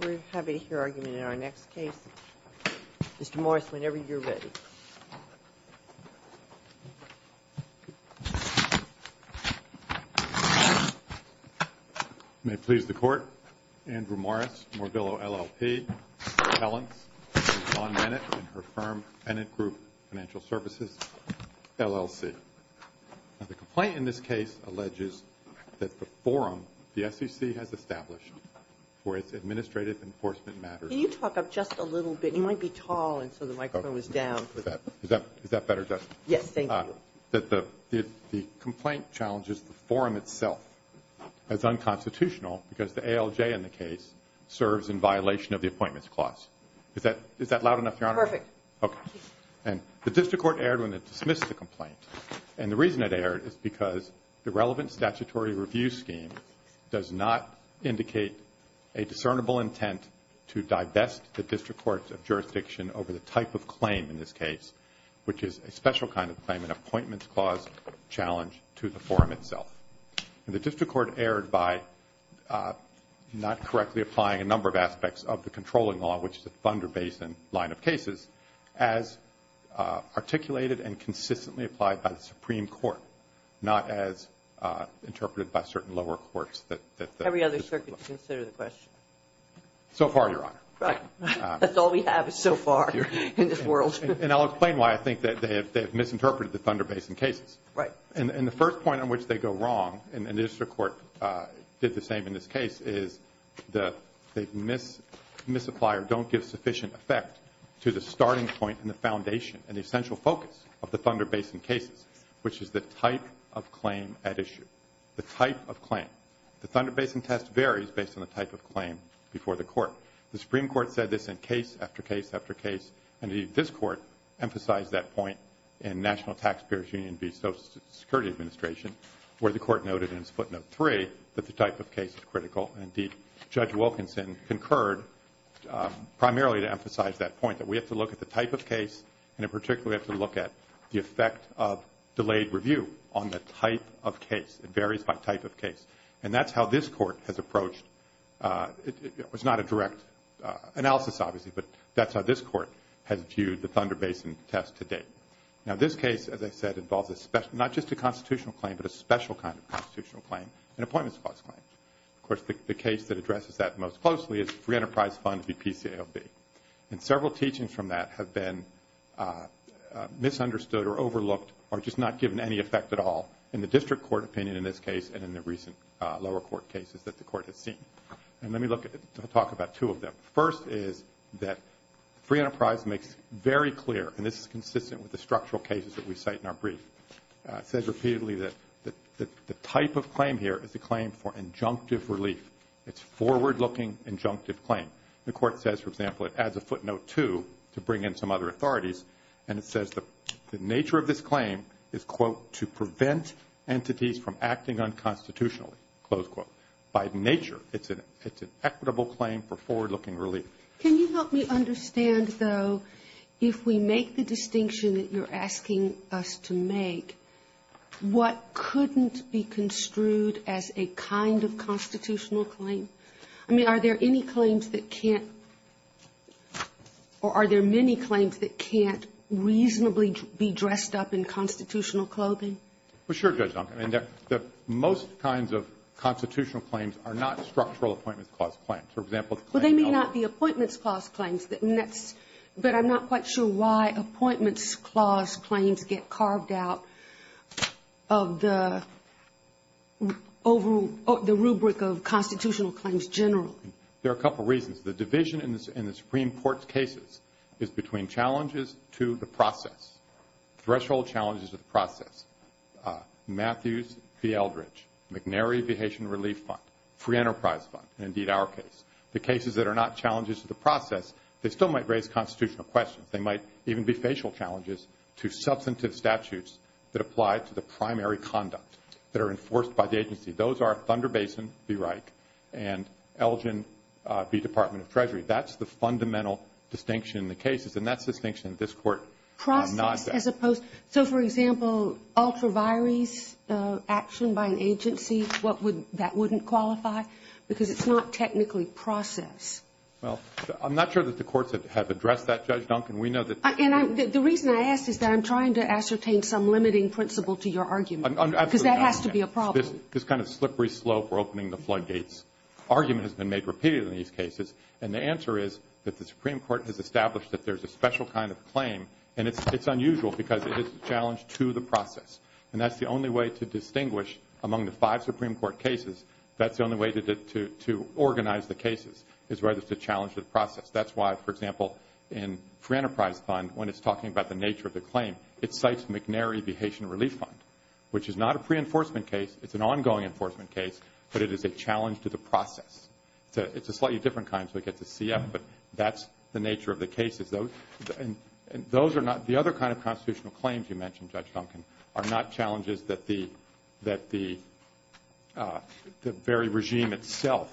We have a hearing in our next case. Mr. Morris, whenever you're ready. May it please the Court, Andrew Morris, Morvillo LLP, Mr. Hellens, John Bennett and her firm the SEC has established for its administrative enforcement matters. Can you talk up just a little bit? You might be tall and so the microphone is down. Is that better, Judge? Yes, thank you. The complaint challenges the forum itself as unconstitutional because the ALJ in the case serves in violation of the appointments clause. Is that loud enough, Your Honor? Perfect. And the reason it erred is because the relevant statutory review scheme does not indicate a discernible intent to divest the district courts of jurisdiction over the type of claim in this case, which is a special kind of claim, an appointments clause challenge to the forum itself. And the district court erred by not correctly applying a number of aspects of the controlling law, which is a Thunder Basin line of cases, as articulated and consistently applied by the Supreme Court, not as interpreted by certain lower courts. Every other circuit should consider the question. So far, Your Honor. Right. That's all we have so far in this world. And I'll explain why I think that they have misinterpreted the Thunder Basin cases. Right. And the first point on which they go wrong, and the district court did the same in this case, is the misapplier don't give sufficient effect to the starting point and the foundation and the essential focus of the Thunder Basin cases, which is the type of claim at issue. The type of claim. The Thunder Basin test varies based on the type of claim before the court. The Supreme Court said this in case after case after case, and indeed this court emphasized that point in National Taxpayers Union v. Social Security Administration, where the court noted in its footnote three that the type of case is critical. Indeed, Judge Wilkinson concurred primarily to emphasize that point, that we have to look at the type of case and in particular we have to look at the effect of delayed review on the type of case. It varies by type of case. And that's how this court has approached. It was not a direct analysis, obviously, but that's how this court has viewed the Thunder Basin test to date. Now, this case, as I said, involves not just a constitutional claim, but a special kind of constitutional claim, an appointments clause claim. Of course, the case that addresses that most closely is Free Enterprise Fund v. PCAOB. And several teachings from that have been misunderstood or overlooked or just not given any effect at all in the district court opinion in this case and in the recent lower court cases that the court has seen. And let me talk about two of them. The first is that Free Enterprise makes very clear, and this is consistent with the structural cases that we cite in our brief, says repeatedly that the type of claim here is a claim for injunctive relief. It's forward-looking injunctive claim. The court says, for example, it adds a footnote two to bring in some other authorities and it says the nature of this claim is, quote, to prevent entities from acting unconstitutionally, close quote. By nature, it's an equitable claim for forward-looking relief. Sotomayor, can you help me understand, though, if we make the distinction that you're asking us to make, what couldn't be construed as a kind of constitutional claim? I mean, are there any claims that can't or are there many claims that can't reasonably be dressed up in constitutional clothing? Well, sure, Judge Duncombe. I mean, most kinds of constitutional claims are not structural appointments clause claims. For example, the claim of Well, they may not be appointments clause claims, but I'm not quite sure why appointments clause claims get carved out of the rubric of constitutional claims generally. There are a couple reasons. The division in the Supreme Court's cases is between challenges to the process, threshold challenges to the process, Matthews v. Eldridge, McNary v. Haitian Relief Fund, Free Enterprise Fund, and indeed our case. The cases that are not challenges to the process, they still might raise constitutional questions. They might even be facial challenges to substantive statutes that apply to the primary conduct that are enforced by the agency. Those are Thunder Basin v. Reich and Elgin v. Department of Treasury. That's the fundamental distinction in the cases, and that's the distinction that this Court does not have. Process as opposed to, so for example, ultraviruses action by an agency, that wouldn't qualify? Because it's not technically process. Well, I'm not sure that the courts have addressed that, Judge Duncombe. We know that And the reason I ask is that I'm trying to ascertain some limiting principle to your argument, because that has to be a problem. This kind of slippery slope or opening the floodgates argument has been made repeated in these cases, and the answer is that the Supreme Court has established that there's a special kind of claim, and it's unusual because it is a challenge to the process, and that's the only way to distinguish among the five Supreme Court cases. That's the only way to organize the cases is whether it's a challenge to the process. That's why, for example, in Free Enterprise Fund, when it's talking about the nature of the claim, it cites McNary v. Haitian Relief Fund, which is not a pre-enforcement case. It's an ongoing enforcement case, but it is a challenge to the process. It's a slightly different kind, so it gets a CF, but that's the nature of the cases. Those are not the other kind of constitutional claims you mentioned, Judge Duncan, are not challenges that the very regime itself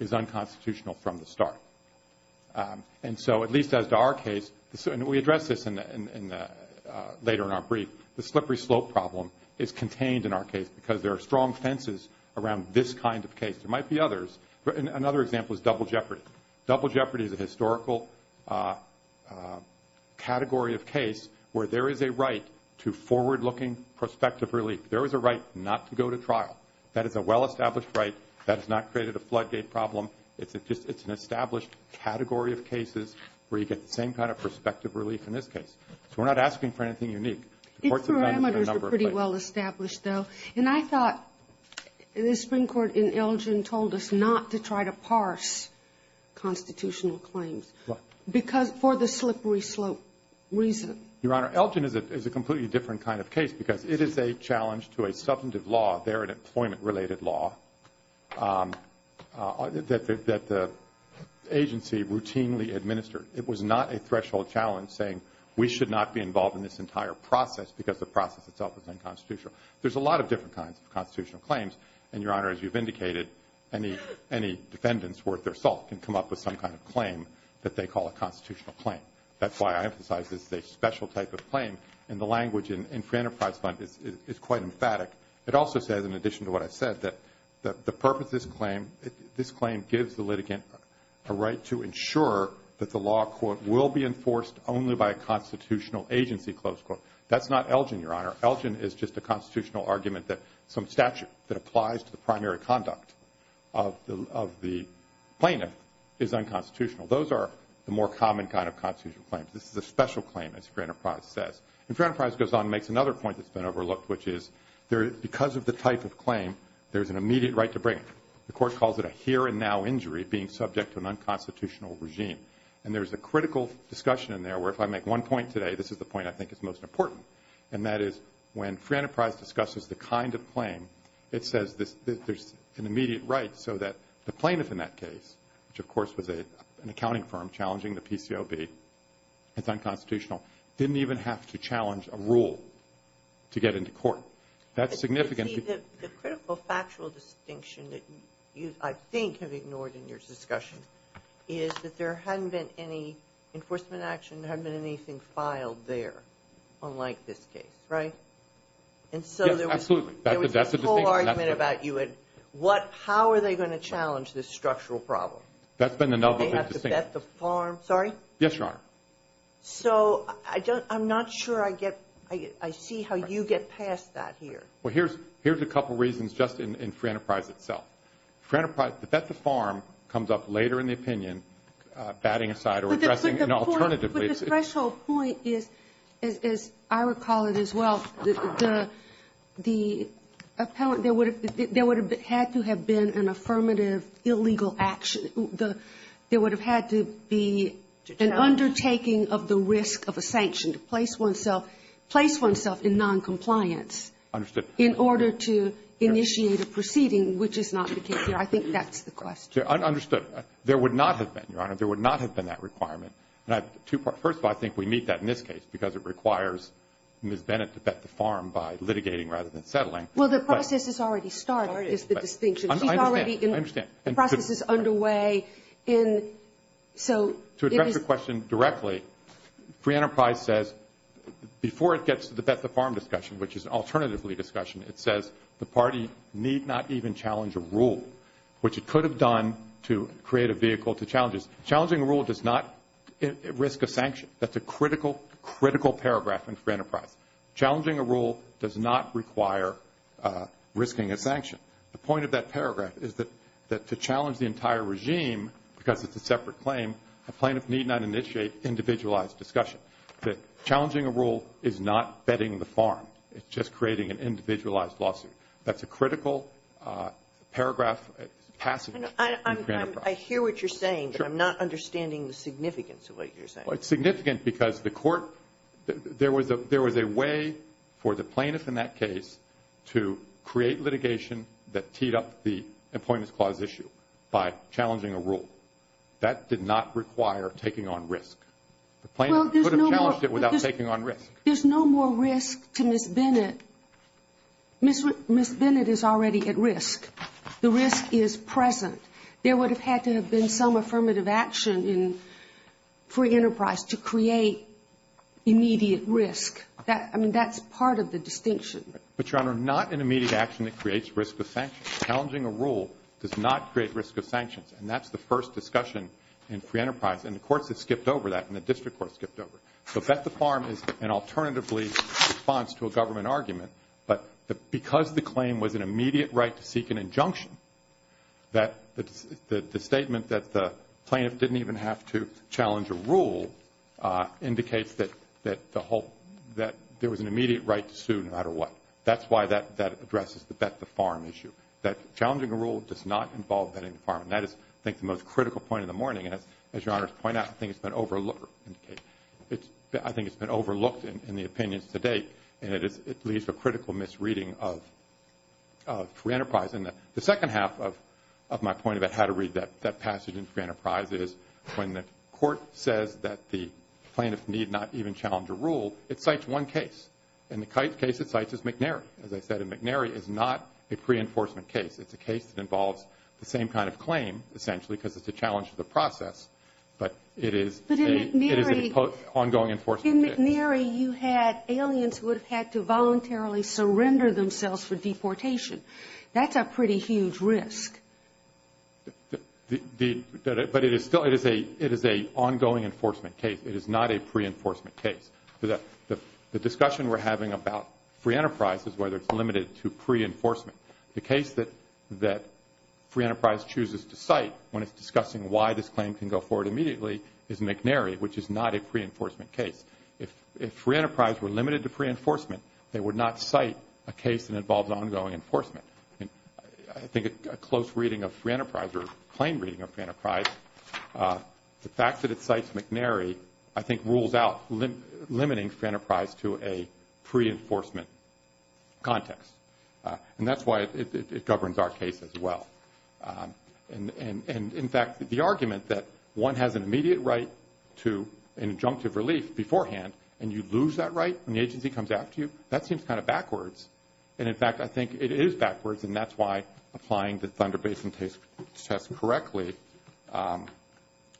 is unconstitutional from the start. And so, at least as to our case, and we address this later in our brief, the slippery slope problem is contained in our case because there are strong fences around this kind of case. There might be others. Another example is Double Jeopardy. Double Jeopardy is a historical category of case where there is a right to forward-looking prospective relief. There is a right not to go to trial. That is a well-established right. That has not created a floodgate problem. It's an established category of cases where you get the same kind of prospective relief in this case. So we're not asking for anything unique. It's parameters are pretty well established, though, and I thought the Supreme Court in Elgin told us not to try to parse constitutional claims for the slippery slope reason. Your Honor, Elgin is a completely different kind of case because it is a challenge to a substantive law there, an employment-related law, that the agency routinely administered. It was not a threshold challenge saying we should not be involved in this entire process because the process itself is unconstitutional. There's a lot of different kinds of constitutional claims, and, Your Honor, as you've indicated, any defendants worth their salt can come up with some kind of claim that they call a constitutional claim. That's why I emphasize this is a special type of claim, and the language in Free Enterprise Fund is quite emphatic. It also says, in addition to what I said, that the purpose of this claim, this claim gives the litigant a right to ensure that the law, quote, will be enforced only by a constitutional agency, close quote. That's not Elgin, Your Honor. Elgin is just a constitutional argument that some statute that applies to the primary conduct of the plaintiff is unconstitutional. Those are the more common kind of constitutional claims. This is a special claim, as Free Enterprise says. And Free Enterprise goes on and makes another point that's been overlooked, which is because of the type of claim, there's an immediate right to bring it. The Court calls it a here-and-now injury being subject to an unconstitutional regime, and there's a critical discussion in there where if I make one point today, this is the point I think is most important, and that is when Free Enterprise discusses the kind of claim, it says that there's an immediate right so that the plaintiff in that case, which of course was an accounting firm challenging the PCOB, it's unconstitutional, didn't even have to challenge a rule to get into court. That's significant. The critical factual distinction that you, I think, have ignored in your discussion is that there hadn't been any enforcement action, there hadn't been anything filed there, unlike this case, right? Yes, absolutely. And so there was this whole argument about how are they going to challenge this structural problem? That's been the number one distinction. They have to vet the farm. Sorry? Yes, Your Honor. So I'm not sure I see how you get past that here. Well, here's a couple reasons just in Free Enterprise itself. The vet the farm comes up later in the opinion, batting aside or addressing, but the threshold point is, as I recall it as well, the appellant, there would have had to have been an affirmative illegal action. There would have had to be an undertaking of the risk of a sanction to place oneself in noncompliance in order to initiate a proceeding, which is not the case here. I think that's the question. Understood. There would not have been, Your Honor. There would not have been that requirement. First of all, I think we need that in this case because it requires Ms. Bennett to vet the farm by litigating rather than settling. Well, the process has already started is the distinction. I understand. The process is underway. To address your question directly, Free Enterprise says, before it gets to the vet the farm discussion, which is an alternative lead discussion, it says the party need not even challenge a rule, which it could have done to create a vehicle to challenges. Challenging a rule does not risk a sanction. That's a critical, critical paragraph in Free Enterprise. Challenging a rule does not require risking a sanction. The point of that paragraph is that to challenge the entire regime, because it's a separate claim, a plaintiff need not initiate individualized discussion. Challenging a rule is not vetting the farm. It's just creating an individualized lawsuit. That's a critical paragraph passage in Free Enterprise. I hear what you're saying, but I'm not understanding the significance of what you're saying. Well, it's significant because the court, there was a way for the plaintiff in that case to create litigation that teed up the Employment Clause issue by challenging a rule. That did not require taking on risk. The plaintiff could have challenged it without taking on risk. There's no more risk to Ms. Bennett. Ms. Bennett is already at risk. The risk is present. There would have had to have been some affirmative action in Free Enterprise to create immediate risk. I mean, that's part of the distinction. But, Your Honor, not an immediate action that creates risk of sanctions. Challenging a rule does not create risk of sanctions, and that's the first discussion in Free Enterprise. And the courts have skipped over that, and the district courts skipped over it. So bet the farm is an alternatively response to a government argument. But because the claim was an immediate right to seek an injunction, the statement that the plaintiff didn't even have to challenge a rule indicates that there was an immediate right to sue no matter what. That's why that addresses the bet the farm issue, that challenging a rule does not involve betting the farm. And that is, I think, the most critical point of the morning. As Your Honor has pointed out, I think it's been overlooked in the opinions to date, and it leads to a critical misreading of Free Enterprise. And the second half of my point about how to read that passage in Free Enterprise is when the court says that the plaintiff need not even challenge a rule, it cites one case, and the case it cites is McNary. As I said, McNary is not a pre-enforcement case. It's a case that involves the same kind of claim, essentially, because it's a challenge to the process. But it is an ongoing enforcement case. But in McNary, you had aliens who would have had to voluntarily surrender themselves for deportation. That's a pretty huge risk. But it is still a ongoing enforcement case. It is not a pre-enforcement case. The discussion we're having about Free Enterprise is whether it's limited to pre-enforcement. The case that Free Enterprise chooses to cite when it's discussing why this claim can go forward immediately is McNary, which is not a pre-enforcement case. If Free Enterprise were limited to pre-enforcement, they would not cite a case that involves ongoing enforcement. I think a close reading of Free Enterprise, or a plain reading of Free Enterprise, the fact that it cites McNary I think rules out limiting Free Enterprise to a pre-enforcement context. That's why it governs our case as well. In fact, the argument that one has an immediate right to an injunctive relief beforehand and you lose that right when the agency comes after you, that seems kind of backwards. In fact, I think it is backwards, and that's why applying the Thunder Basin test correctly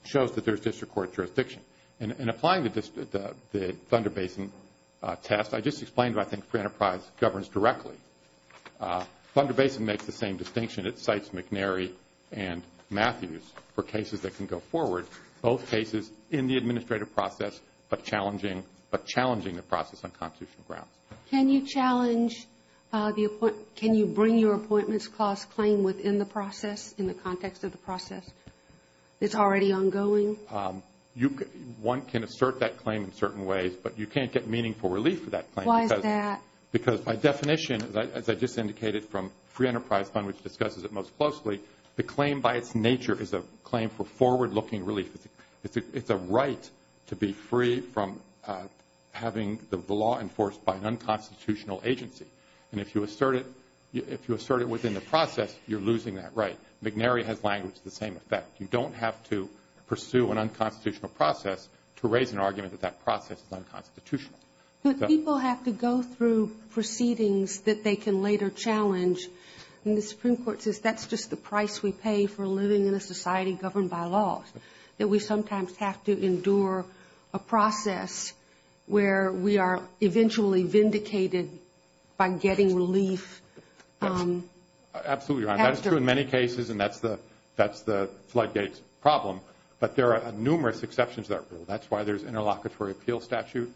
shows that there's district court jurisdiction. In applying the Thunder Basin test, I just explained what I think Free Enterprise governs directly. Thunder Basin makes the same distinction. It cites McNary and Matthews for cases that can go forward, both cases in the administrative process but challenging the process on constitutional grounds. Can you bring your appointments clause claim within the process, in the context of the process? It's already ongoing? One can assert that claim in certain ways, but you can't get meaningful relief for that claim. Why is that? Because by definition, as I just indicated from Free Enterprise Fund, which discusses it most closely, the claim by its nature is a claim for forward-looking relief. It's a right to be free from having the law enforced by an unconstitutional agency. And if you assert it within the process, you're losing that right. McNary has language to the same effect. You don't have to pursue an unconstitutional process to raise an argument that that process is unconstitutional. But people have to go through proceedings that they can later challenge, and the Supreme Court says that's just the price we pay for living in a society governed by laws, that we sometimes have to endure a process where we are eventually vindicated by getting relief. Absolutely right. That's true in many cases, and that's the floodgates problem. But there are numerous exceptions to that rule. That's why there's interlocutory appeal statute.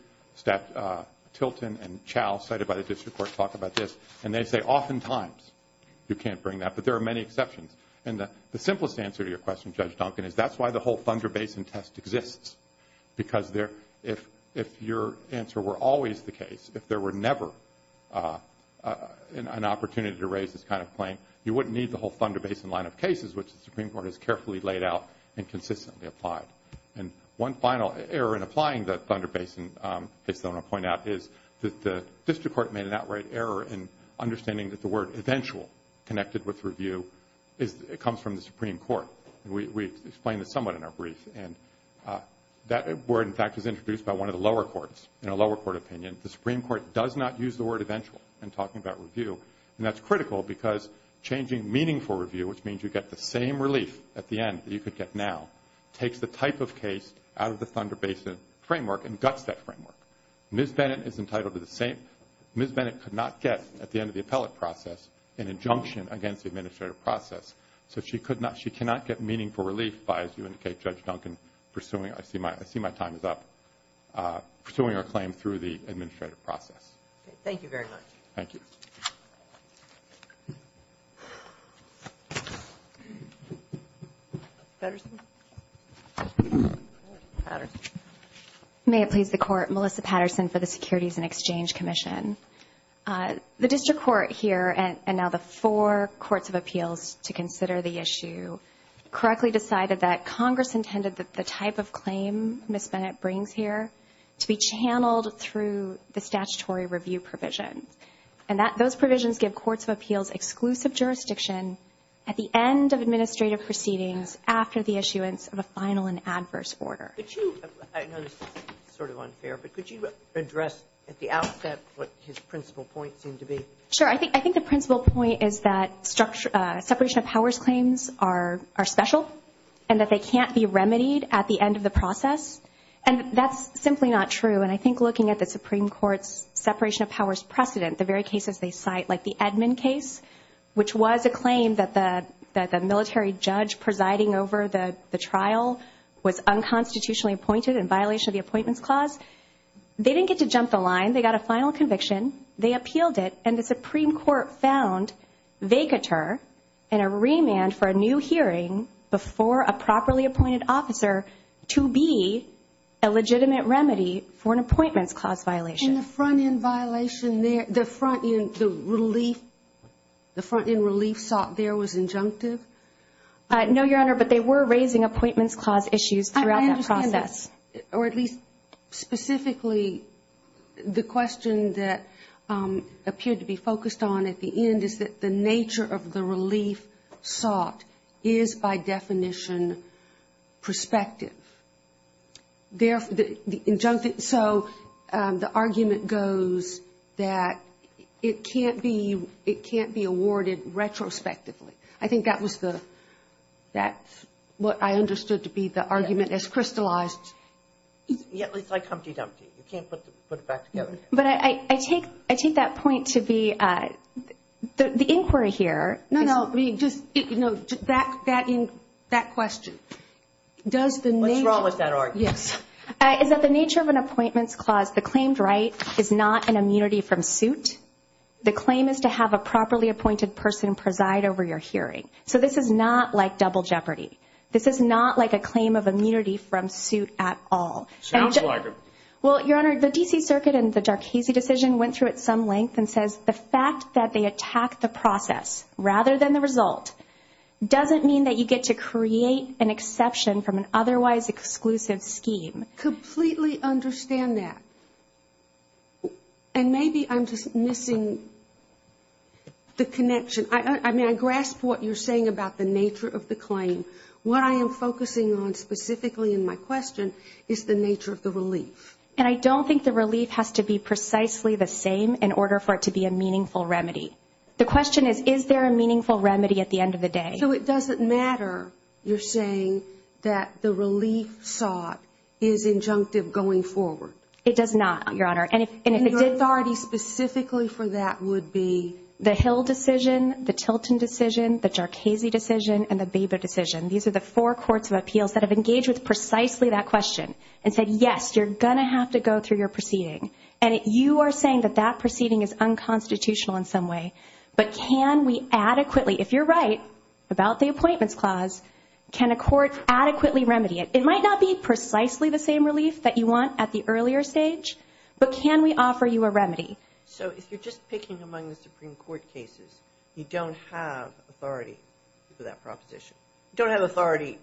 Tilton and Chow, cited by the district court, talk about this. And they say oftentimes you can't bring that, but there are many exceptions. And the simplest answer to your question, Judge Duncan, is that's why the whole Thunder Basin test exists, because if your answer were always the case, if there were never an opportunity to raise this kind of claim, you wouldn't need the whole Thunder Basin line of cases, which the Supreme Court has carefully laid out and consistently applied. And one final error in applying the Thunder Basin case that I want to point out is that the district court made an outright error in understanding that the word eventual connected with review comes from the Supreme Court. We explained this somewhat in our brief. And that word, in fact, was introduced by one of the lower courts in a lower court opinion. The Supreme Court does not use the word eventual in talking about review, and that's critical because changing meaningful review, which means you get the same relief at the end that you could get now, takes the type of case out of the Thunder Basin framework and guts that framework. Ms. Bennett is entitled to the same. Ms. Bennett could not get, at the end of the appellate process, an injunction against the administrative process, so she cannot get meaningful relief by, as you indicate, Judge Duncan, pursuing. I see my time is up. Pursuing her claim through the administrative process. Thank you very much. Thank you. Patterson? Patterson. May it please the Court, Melissa Patterson for the Securities and Exchange Commission. The district court here and now the four courts of appeals to consider the issue correctly decided that Congress intended that the type of claim Ms. Bennett brings here to be channeled through the statutory review provision. And those provisions give courts of appeals exclusive jurisdiction at the end of administrative proceedings after the issuance of a final and adverse order. Could you address at the outset what his principal point seemed to be? Sure. I think the principal point is that separation of powers claims are special and that they can't be remedied at the end of the process. And that's simply not true. And I think looking at the Supreme Court's separation of powers precedent, the very cases they cite, like the Edmund case, which was a claim that the military judge presiding over the trial was unconstitutionally appointed in violation of the appointments clause, they didn't get to jump the line. They got a final conviction. They appealed it, and the Supreme Court found vacatur and a remand for a new hearing before a properly appointed officer to be a legitimate remedy for an appointments clause violation. And the front-end violation there, the front-end relief, the front-end relief sought there was injunctive? No, Your Honor, but they were raising appointments clause issues throughout that process. I understand that. Or at least specifically the question that appeared to be focused on at the end is that the nature of the relief sought is by definition prospective. So the argument goes that it can't be awarded retrospectively. I think that was what I understood to be the argument as crystallized. It's like Humpty Dumpty. You can't put it back together. But I take that point to be the inquiry here. No, no, just that question. What's wrong with that argument? Yes. Is that the nature of an appointments clause, the claimed right is not an immunity from suit. The claim is to have a properly appointed person preside over your hearing. So this is not like double jeopardy. This is not like a claim of immunity from suit at all. Sounds like it. Well, Your Honor, the D.C. Circuit and the Darkeese decision went through at some length and says the fact that they attack the process rather than the result doesn't mean that you get to create an exception from an otherwise exclusive scheme. I completely understand that. And maybe I'm just missing the connection. I mean, I grasp what you're saying about the nature of the claim. What I am focusing on specifically in my question is the nature of the relief. And I don't think the relief has to be precisely the same in order for it to be a meaningful remedy. The question is, is there a meaningful remedy at the end of the day? So it doesn't matter you're saying that the relief sought is injunctive going forward. It does not, Your Honor. And if it did. And your authority specifically for that would be? The Hill decision, the Tilton decision, the Darkeese decision, and the Baber decision. These are the four courts of appeals that have engaged with precisely that question and said, yes, you're going to have to go through your proceeding. And you are saying that that proceeding is unconstitutional in some way. But can we adequately, if you're right about the appointments clause, can a court adequately remedy it? It might not be precisely the same relief that you want at the earlier stage, but can we offer you a remedy? So if you're just picking among the Supreme Court cases, you don't have authority for that proposition. You don't have authority,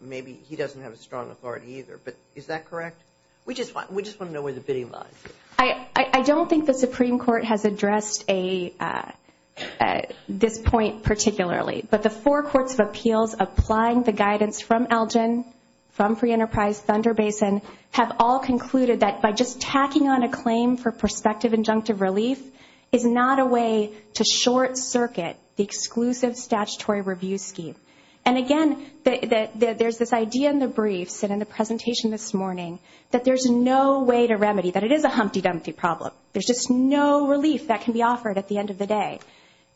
maybe he doesn't have a strong authority either. But is that correct? We just want to know where the bidding lies. I don't think the Supreme Court has addressed this point particularly. But the four courts of appeals applying the guidance from Elgin, from Free Enterprise, Thunder Basin, have all concluded that by just tacking on a claim for prospective injunctive relief is not a way to short circuit the exclusive statutory review scheme. And, again, there's this idea in the briefs and in the presentation this morning that there's no way to remedy, that it is a humpty-dumpty problem. There's just no relief that can be offered at the end of the day.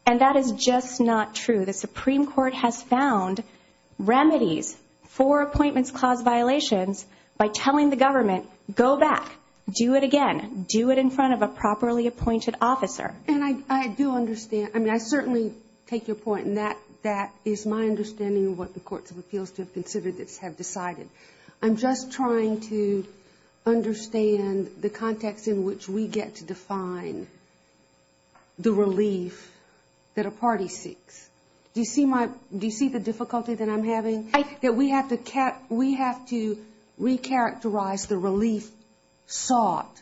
And that is just not true. The Supreme Court has found remedies for appointments clause violations by telling the government, go back, do it again, do it in front of a properly appointed officer. And I do understand. I mean, I certainly take your point, and that is my understanding of what the courts of appeals to have considered that have decided. I'm just trying to understand the context in which we get to define the relief that a party seeks. Do you see the difficulty that I'm having? We have to recharacterize the relief sought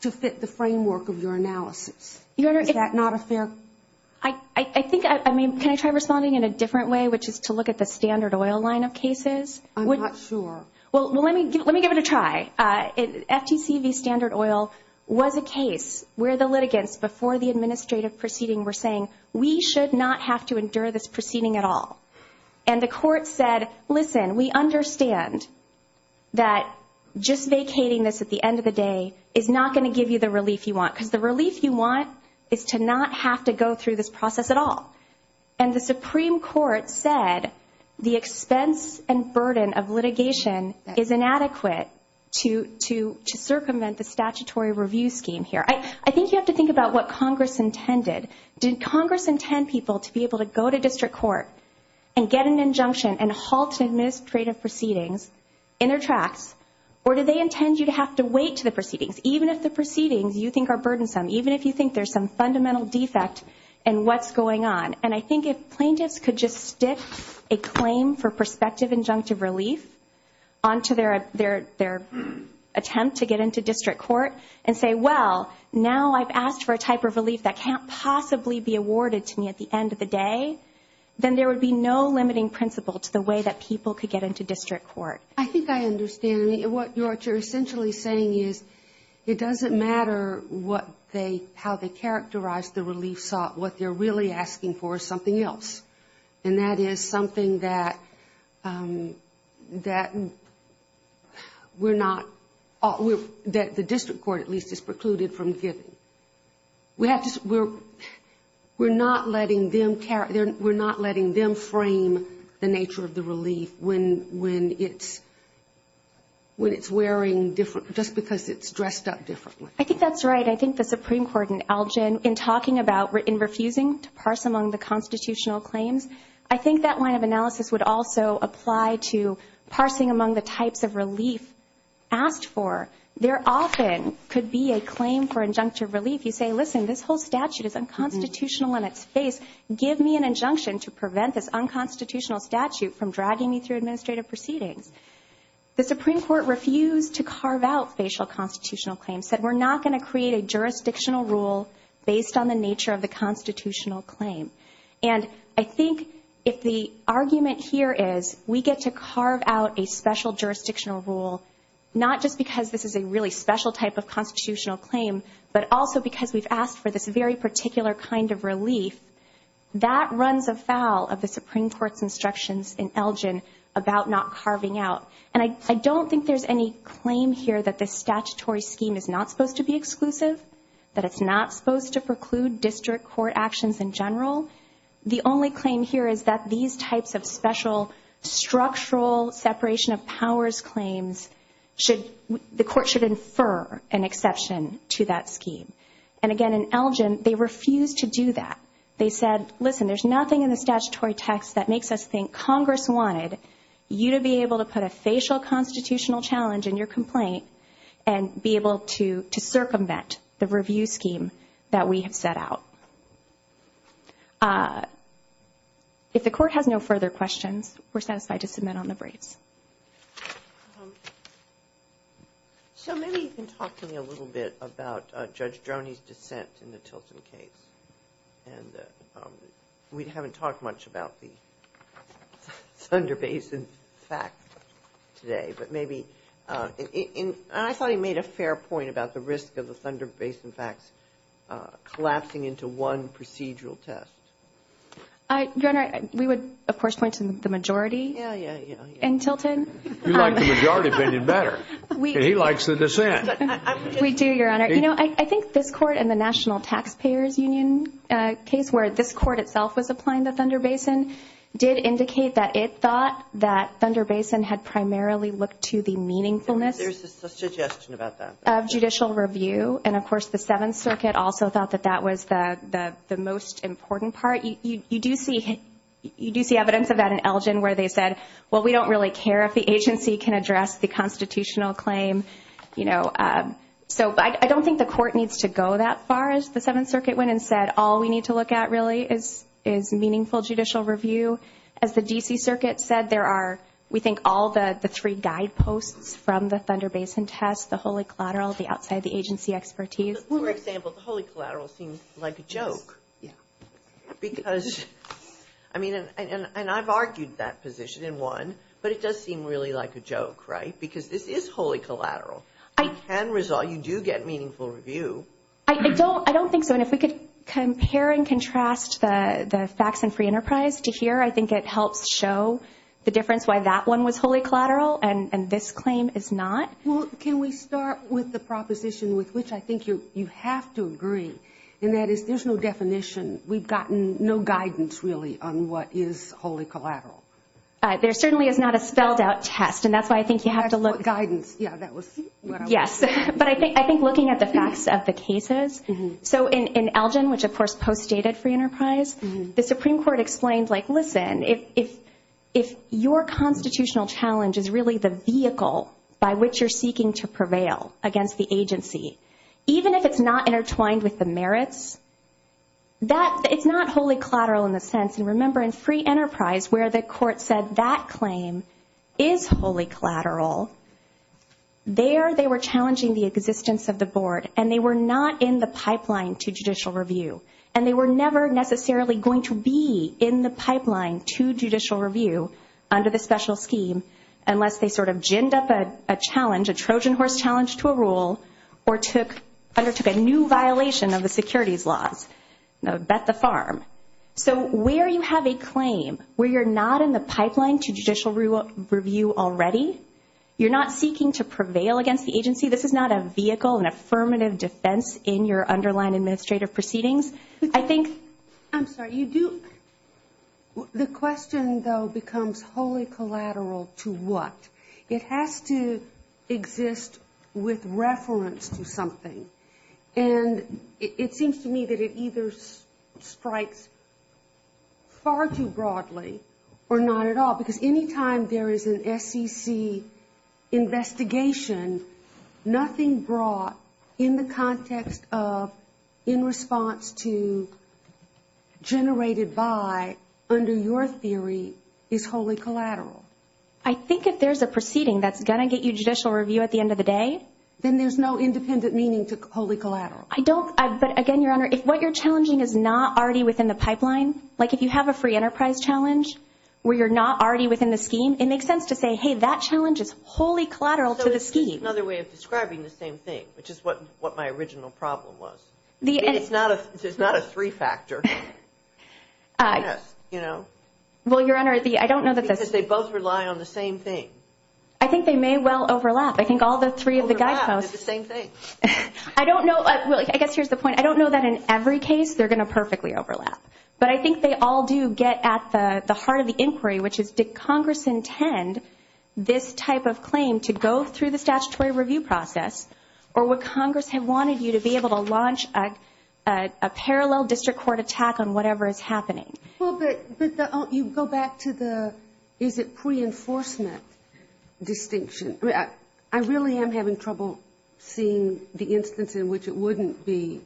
to fit the framework of your analysis. Is that not a fair? I think, I mean, can I try responding in a different way, which is to look at the standard oil line of cases? I'm not sure. Well, let me give it a try. FTC v. Standard Oil was a case where the litigants, before the administrative proceeding, were saying, we should not have to endure this proceeding at all. And the court said, listen, we understand that just vacating this at the end of the day is not going to give you the relief you want, because the relief you want is to not have to go through this process at all. And the Supreme Court said the expense and burden of litigation is inadequate to circumvent the statutory review scheme here. I think you have to think about what Congress intended. Did Congress intend people to be able to go to district court and get an injunction and halt administrative proceedings in their tracks, or did they intend you to have to wait to the proceedings, even if the proceedings you think are burdensome, even if you think there's some fundamental defect in what's going on? And I think if plaintiffs could just stick a claim for prospective injunctive relief onto their attempt to get into district court and say, well, now I've asked for a type of relief that can't possibly be awarded to me at the end of the day, then there would be no limiting principle to the way that people could get into district court. I think I understand. What you're essentially saying is it doesn't matter how they characterize the relief sought. What they're really asking for is something else, and that is something that the district court, at least, is precluded from giving. We're not letting them frame the nature of the relief when it's wearing different, just because it's dressed up differently. I think that's right. I think the Supreme Court in Algin, in talking about and refusing to parse among the constitutional claims, I think that line of analysis would also apply to parsing among the types of relief asked for. There often could be a claim for injunctive relief. You say, listen, this whole statute is unconstitutional in its face. Give me an injunction to prevent this unconstitutional statute from dragging me through administrative proceedings. The Supreme Court refused to carve out facial constitutional claims, said we're not going to create a jurisdictional rule based on the nature of the constitutional claim. And I think if the argument here is we get to carve out a special jurisdictional rule, not just because this is a really special type of constitutional claim, but also because we've asked for this very particular kind of relief, that runs afoul of the Supreme Court's instructions in Algin about not carving out. And I don't think there's any claim here that this statutory scheme is not supposed to be exclusive, that it's not supposed to preclude district court actions in general. The only claim here is that these types of special structural separation of powers claims should, the court should infer an exception to that scheme. And again, in Algin, they refused to do that. They said, listen, there's nothing in the statutory text that makes us think Congress wanted you to be able to put a facial constitutional challenge in your complaint and be able to circumvent the review scheme that we have set out. If the court has no further questions, we're satisfied to submit on the brace. So maybe you can talk to me a little bit about Judge Droney's dissent in the Tilson case. And we haven't talked much about the Thunder Basin fact today, but maybe. And I thought he made a fair point about the risk of the Thunder Basin facts collapsing into one procedural test. Your Honor, we would, of course, point to the majority. Yeah, yeah, yeah. In Tilton. We like the majority, but they did better. He likes the dissent. We do, Your Honor. You know, I think this court and the National Taxpayers Union case where this court itself was applying the Thunder Basin did indicate that it thought that Thunder Basin had primarily looked to the meaningfulness of judicial review. And, of course, the Seventh Circuit also thought that that was the most important part. You do see evidence of that in Elgin where they said, well, we don't really care if the agency can address the constitutional claim. You know, so I don't think the court needs to go that far as the Seventh Circuit went and said, all we need to look at really is meaningful judicial review. As the D.C. Circuit said, there are, we think, all the three guideposts from the Thunder Basin test, the wholly collateral, the outside the agency expertise. For example, the wholly collateral seems like a joke because, I mean, and I've argued that position in one, but it does seem really like a joke, right, because this is wholly collateral. You can resolve, you do get meaningful review. I don't think so. And if we could compare and contrast the facts in Free Enterprise to here, I think it helps show the difference why that one was wholly collateral and this claim is not. Well, can we start with the proposition with which I think you have to agree, and that is there's no definition. We've gotten no guidance, really, on what is wholly collateral. There certainly is not a spelled out test, and that's why I think you have to look. That's what guidance, yeah, that was what I was saying. Yes, but I think looking at the facts of the cases. So in Elgin, which, of course, postdated Free Enterprise, the Supreme Court explained, like, listen, if your constitutional challenge is really the vehicle by which you're seeking to prevail against the agency, even if it's not intertwined with the merits, it's not wholly collateral in the sense, and remember in Free Enterprise where the court said that claim is wholly collateral, there they were challenging the existence of the board, and they were not in the pipeline to judicial review, and they were never necessarily going to be in the pipeline to judicial review under the special scheme, unless they sort of ginned up a challenge, a Trojan horse challenge to a rule, or undertook a new violation of the securities laws, bet the farm. So where you have a claim, where you're not in the pipeline to judicial review already, you're not seeking to prevail against the agency. This is not a vehicle, an affirmative defense in your underlying administrative proceedings. I'm sorry, the question, though, becomes wholly collateral to what? It has to exist with reference to something, and it seems to me that it either strikes far too broadly or not at all, because any time there is an SEC investigation, nothing brought in the context of in response to generated by under your theory is wholly collateral. I think if there's a proceeding that's going to get you judicial review at the end of the day. Then there's no independent meaning to wholly collateral. I don't, but again, Your Honor, if what you're challenging is not already within the pipeline, like if you have a free enterprise challenge where you're not already within the scheme, it makes sense to say, hey, that challenge is wholly collateral to the scheme. So it's just another way of describing the same thing, which is what my original problem was. It's not a three factor. Well, Your Honor, I don't know that this. Because they both rely on the same thing. I think they may well overlap. I think all the three of the guideposts. They overlap. They're the same thing. I don't know. Well, I guess here's the point. I don't know that in every case they're going to perfectly overlap. But I think they all do get at the heart of the inquiry, which is did Congress intend this type of claim to go through the statutory review process, or would Congress have wanted you to be able to launch a parallel district court attack on whatever is happening? Well, but you go back to the is it pre-enforcement distinction. I really am having trouble seeing the instance in which it wouldn't be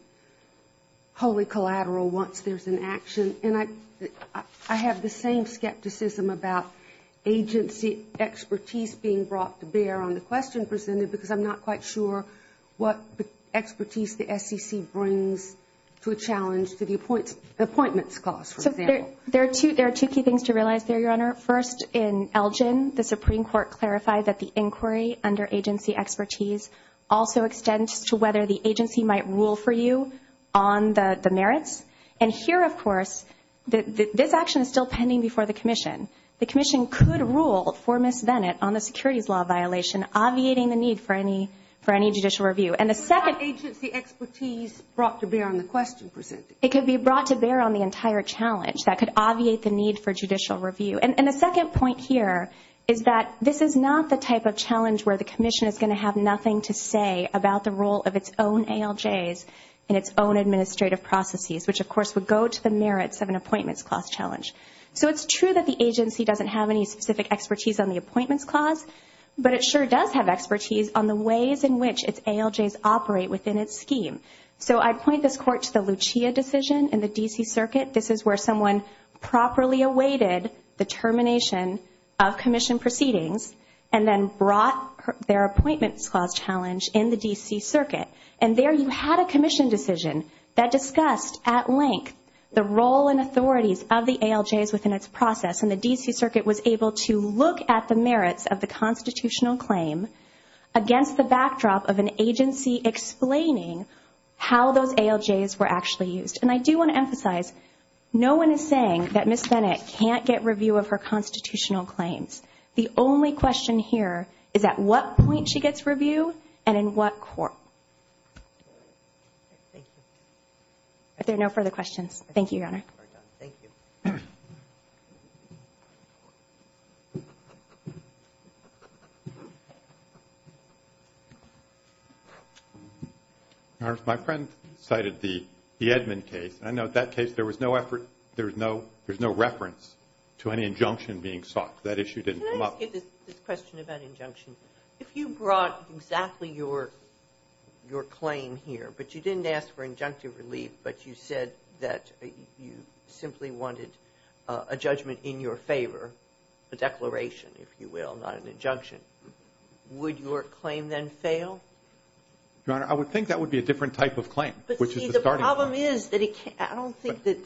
wholly collateral once there's an action. And I have the same skepticism about agency expertise being brought to bear on the question presented, because I'm not quite sure what expertise the SEC brings to a challenge to the appointments cost, for example. So there are two key things to realize there, Your Honor. First, in Elgin, the Supreme Court clarified that the inquiry under agency expertise also extends to whether the agency might rule for you on the merits. And here, of course, this action is still pending before the commission. The commission could rule for Ms. Bennett on the securities law violation, obviating the need for any judicial review. But it's not agency expertise brought to bear on the question presented. It could be brought to bear on the entire challenge. That could obviate the need for judicial review. And the second point here is that this is not the type of challenge where the commission is going to have nothing to say about the role of its own ALJs in its own administrative processes, which, of course, would go to the merits of an appointments cost challenge. So it's true that the agency doesn't have any specific expertise on the appointments cost, but it sure does have expertise on the ways in which its ALJs operate within its scheme. So I point this Court to the Lucia decision in the D.C. Circuit. This is where someone properly awaited the termination of commission proceedings and then brought their appointments cost challenge in the D.C. Circuit. And there you had a commission decision that discussed at length the role and authorities of the ALJs within its process. And the D.C. Circuit was able to look at the merits of the constitutional claim against the backdrop of an agency explaining how those ALJs were actually used. And I do want to emphasize, no one is saying that Ms. Bennett can't get review of her constitutional claims. The only question here is at what point she gets review and in what court. Thank you. Are there no further questions? Thank you, Your Honor. Thank you. My friend cited the Edmund case. I know that case there was no reference to any injunction being sought. That issue didn't come up. Can I ask you this question about injunction? If you brought exactly your claim here, but you didn't ask for injunctive relief, but you said that you simply wanted a judgment in your favor, a declaration, if you will, not an injunction, would your claim then fail? Your Honor, I would think that would be a different type of claim, which is the starting point. I don't think that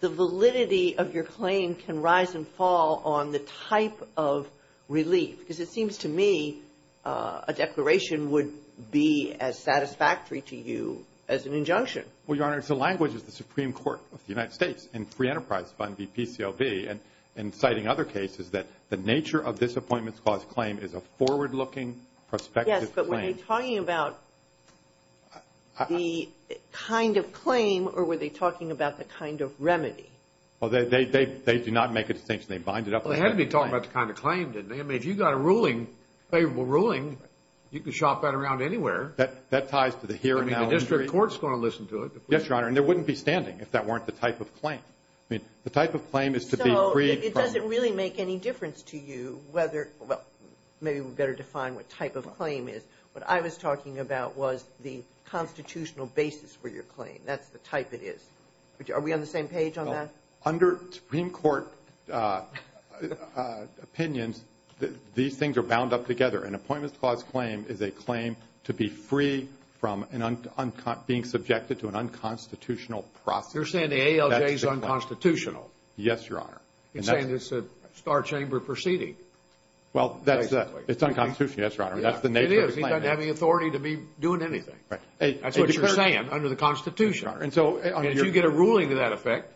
the validity of your claim can rise and fall on the type of relief, because it seems to me a declaration would be as satisfactory to you as an injunction. Well, Your Honor, it's the language of the Supreme Court of the United States and Free Enterprise Fund, the PCLB, and citing other cases that the nature of this Appointments Clause claim is a forward-looking prospective claim. But were they talking about the kind of claim, or were they talking about the kind of remedy? Well, they do not make a distinction. They bind it up. Well, they had to be talking about the kind of claim, didn't they? I mean, if you've got a ruling, a favorable ruling, you can shop that around anywhere. That ties to the here and now. I mean, the district court's going to listen to it. Yes, Your Honor, and there wouldn't be standing if that weren't the type of claim. I mean, the type of claim is to be free from – So it doesn't really make any difference to you whether – What I was talking about was the constitutional basis for your claim. That's the type it is. Are we on the same page on that? Under Supreme Court opinions, these things are bound up together. An Appointments Clause claim is a claim to be free from being subjected to an unconstitutional process. You're saying the ALJ is unconstitutional. Yes, Your Honor. You're saying it's a star chamber proceeding. Well, it's unconstitutional, yes, Your Honor. It is. It's not having authority to be doing anything. That's what you're saying under the Constitution. If you get a ruling to that effect,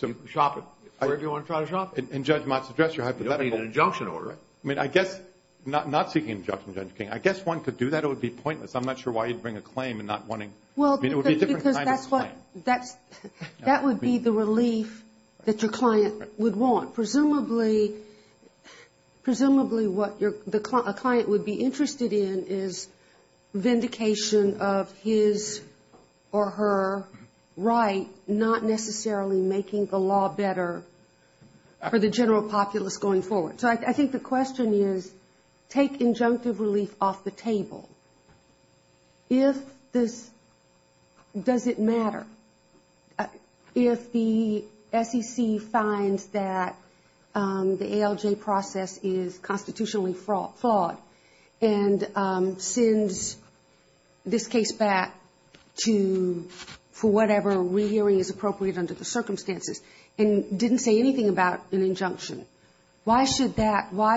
you can shop it wherever you want to try to shop it. And Judge Mott's address, you're hypothetical. You don't need an injunction order. I mean, I guess – not seeking an injunction, Judge King. I guess one could do that. It would be pointless. I'm not sure why you'd bring a claim and not wanting – Well, because that's what – that would be the relief that your client would want. Presumably, what a client would be interested in is vindication of his or her right not necessarily making the law better for the general populace going forward. So I think the question is take injunctive relief off the table. If this – does it matter? If the SEC finds that the ALJ process is constitutionally flawed and sends this case back to – for whatever rehearing is appropriate under the circumstances and didn't say anything about an injunction, why should that – Well,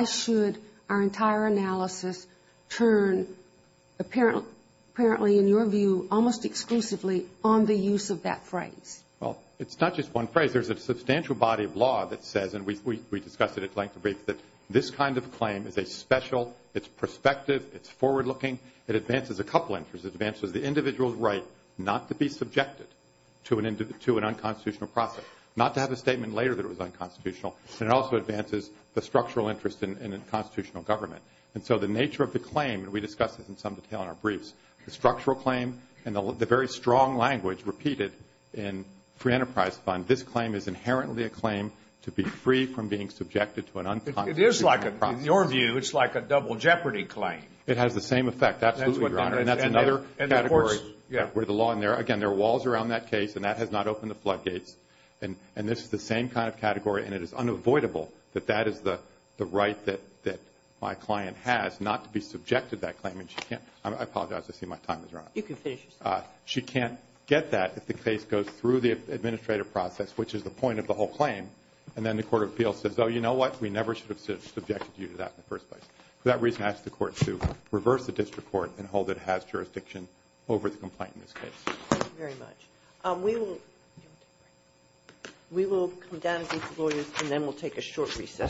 it's not just one phrase. There's a substantial body of law that says, and we discussed it at length in briefs, that this kind of claim is a special – it's prospective, it's forward-looking, it advances a couple of interests. It advances the individual's right not to be subjected to an unconstitutional process, not to have a statement later that it was unconstitutional, and it also advances the structural interest in a constitutional government. And so the nature of the claim, and we discussed this in some detail in our briefs, the structural claim and the very strong language repeated in Free Enterprise Fund, this claim is inherently a claim to be free from being subjected to an unconstitutional process. It is like a – in your view, it's like a double jeopardy claim. It has the same effect, absolutely, Your Honor. And that's another category where the law – again, there are walls around that case, and that has not opened the floodgates. And this is the same kind of category, and it is unavoidable that that is the right that my client has not to be subjected to that claim. I mean, she can't – I apologize, I see my time is running out. You can finish your sentence. She can't get that if the case goes through the administrative process, which is the point of the whole claim, and then the court of appeals says, oh, you know what, we never should have subjected you to that in the first place. For that reason, I ask the Court to reverse the district court and hold it has jurisdiction over the complaint in this case. Thank you very much. We will come down to these lawyers, and then we'll take a short recess.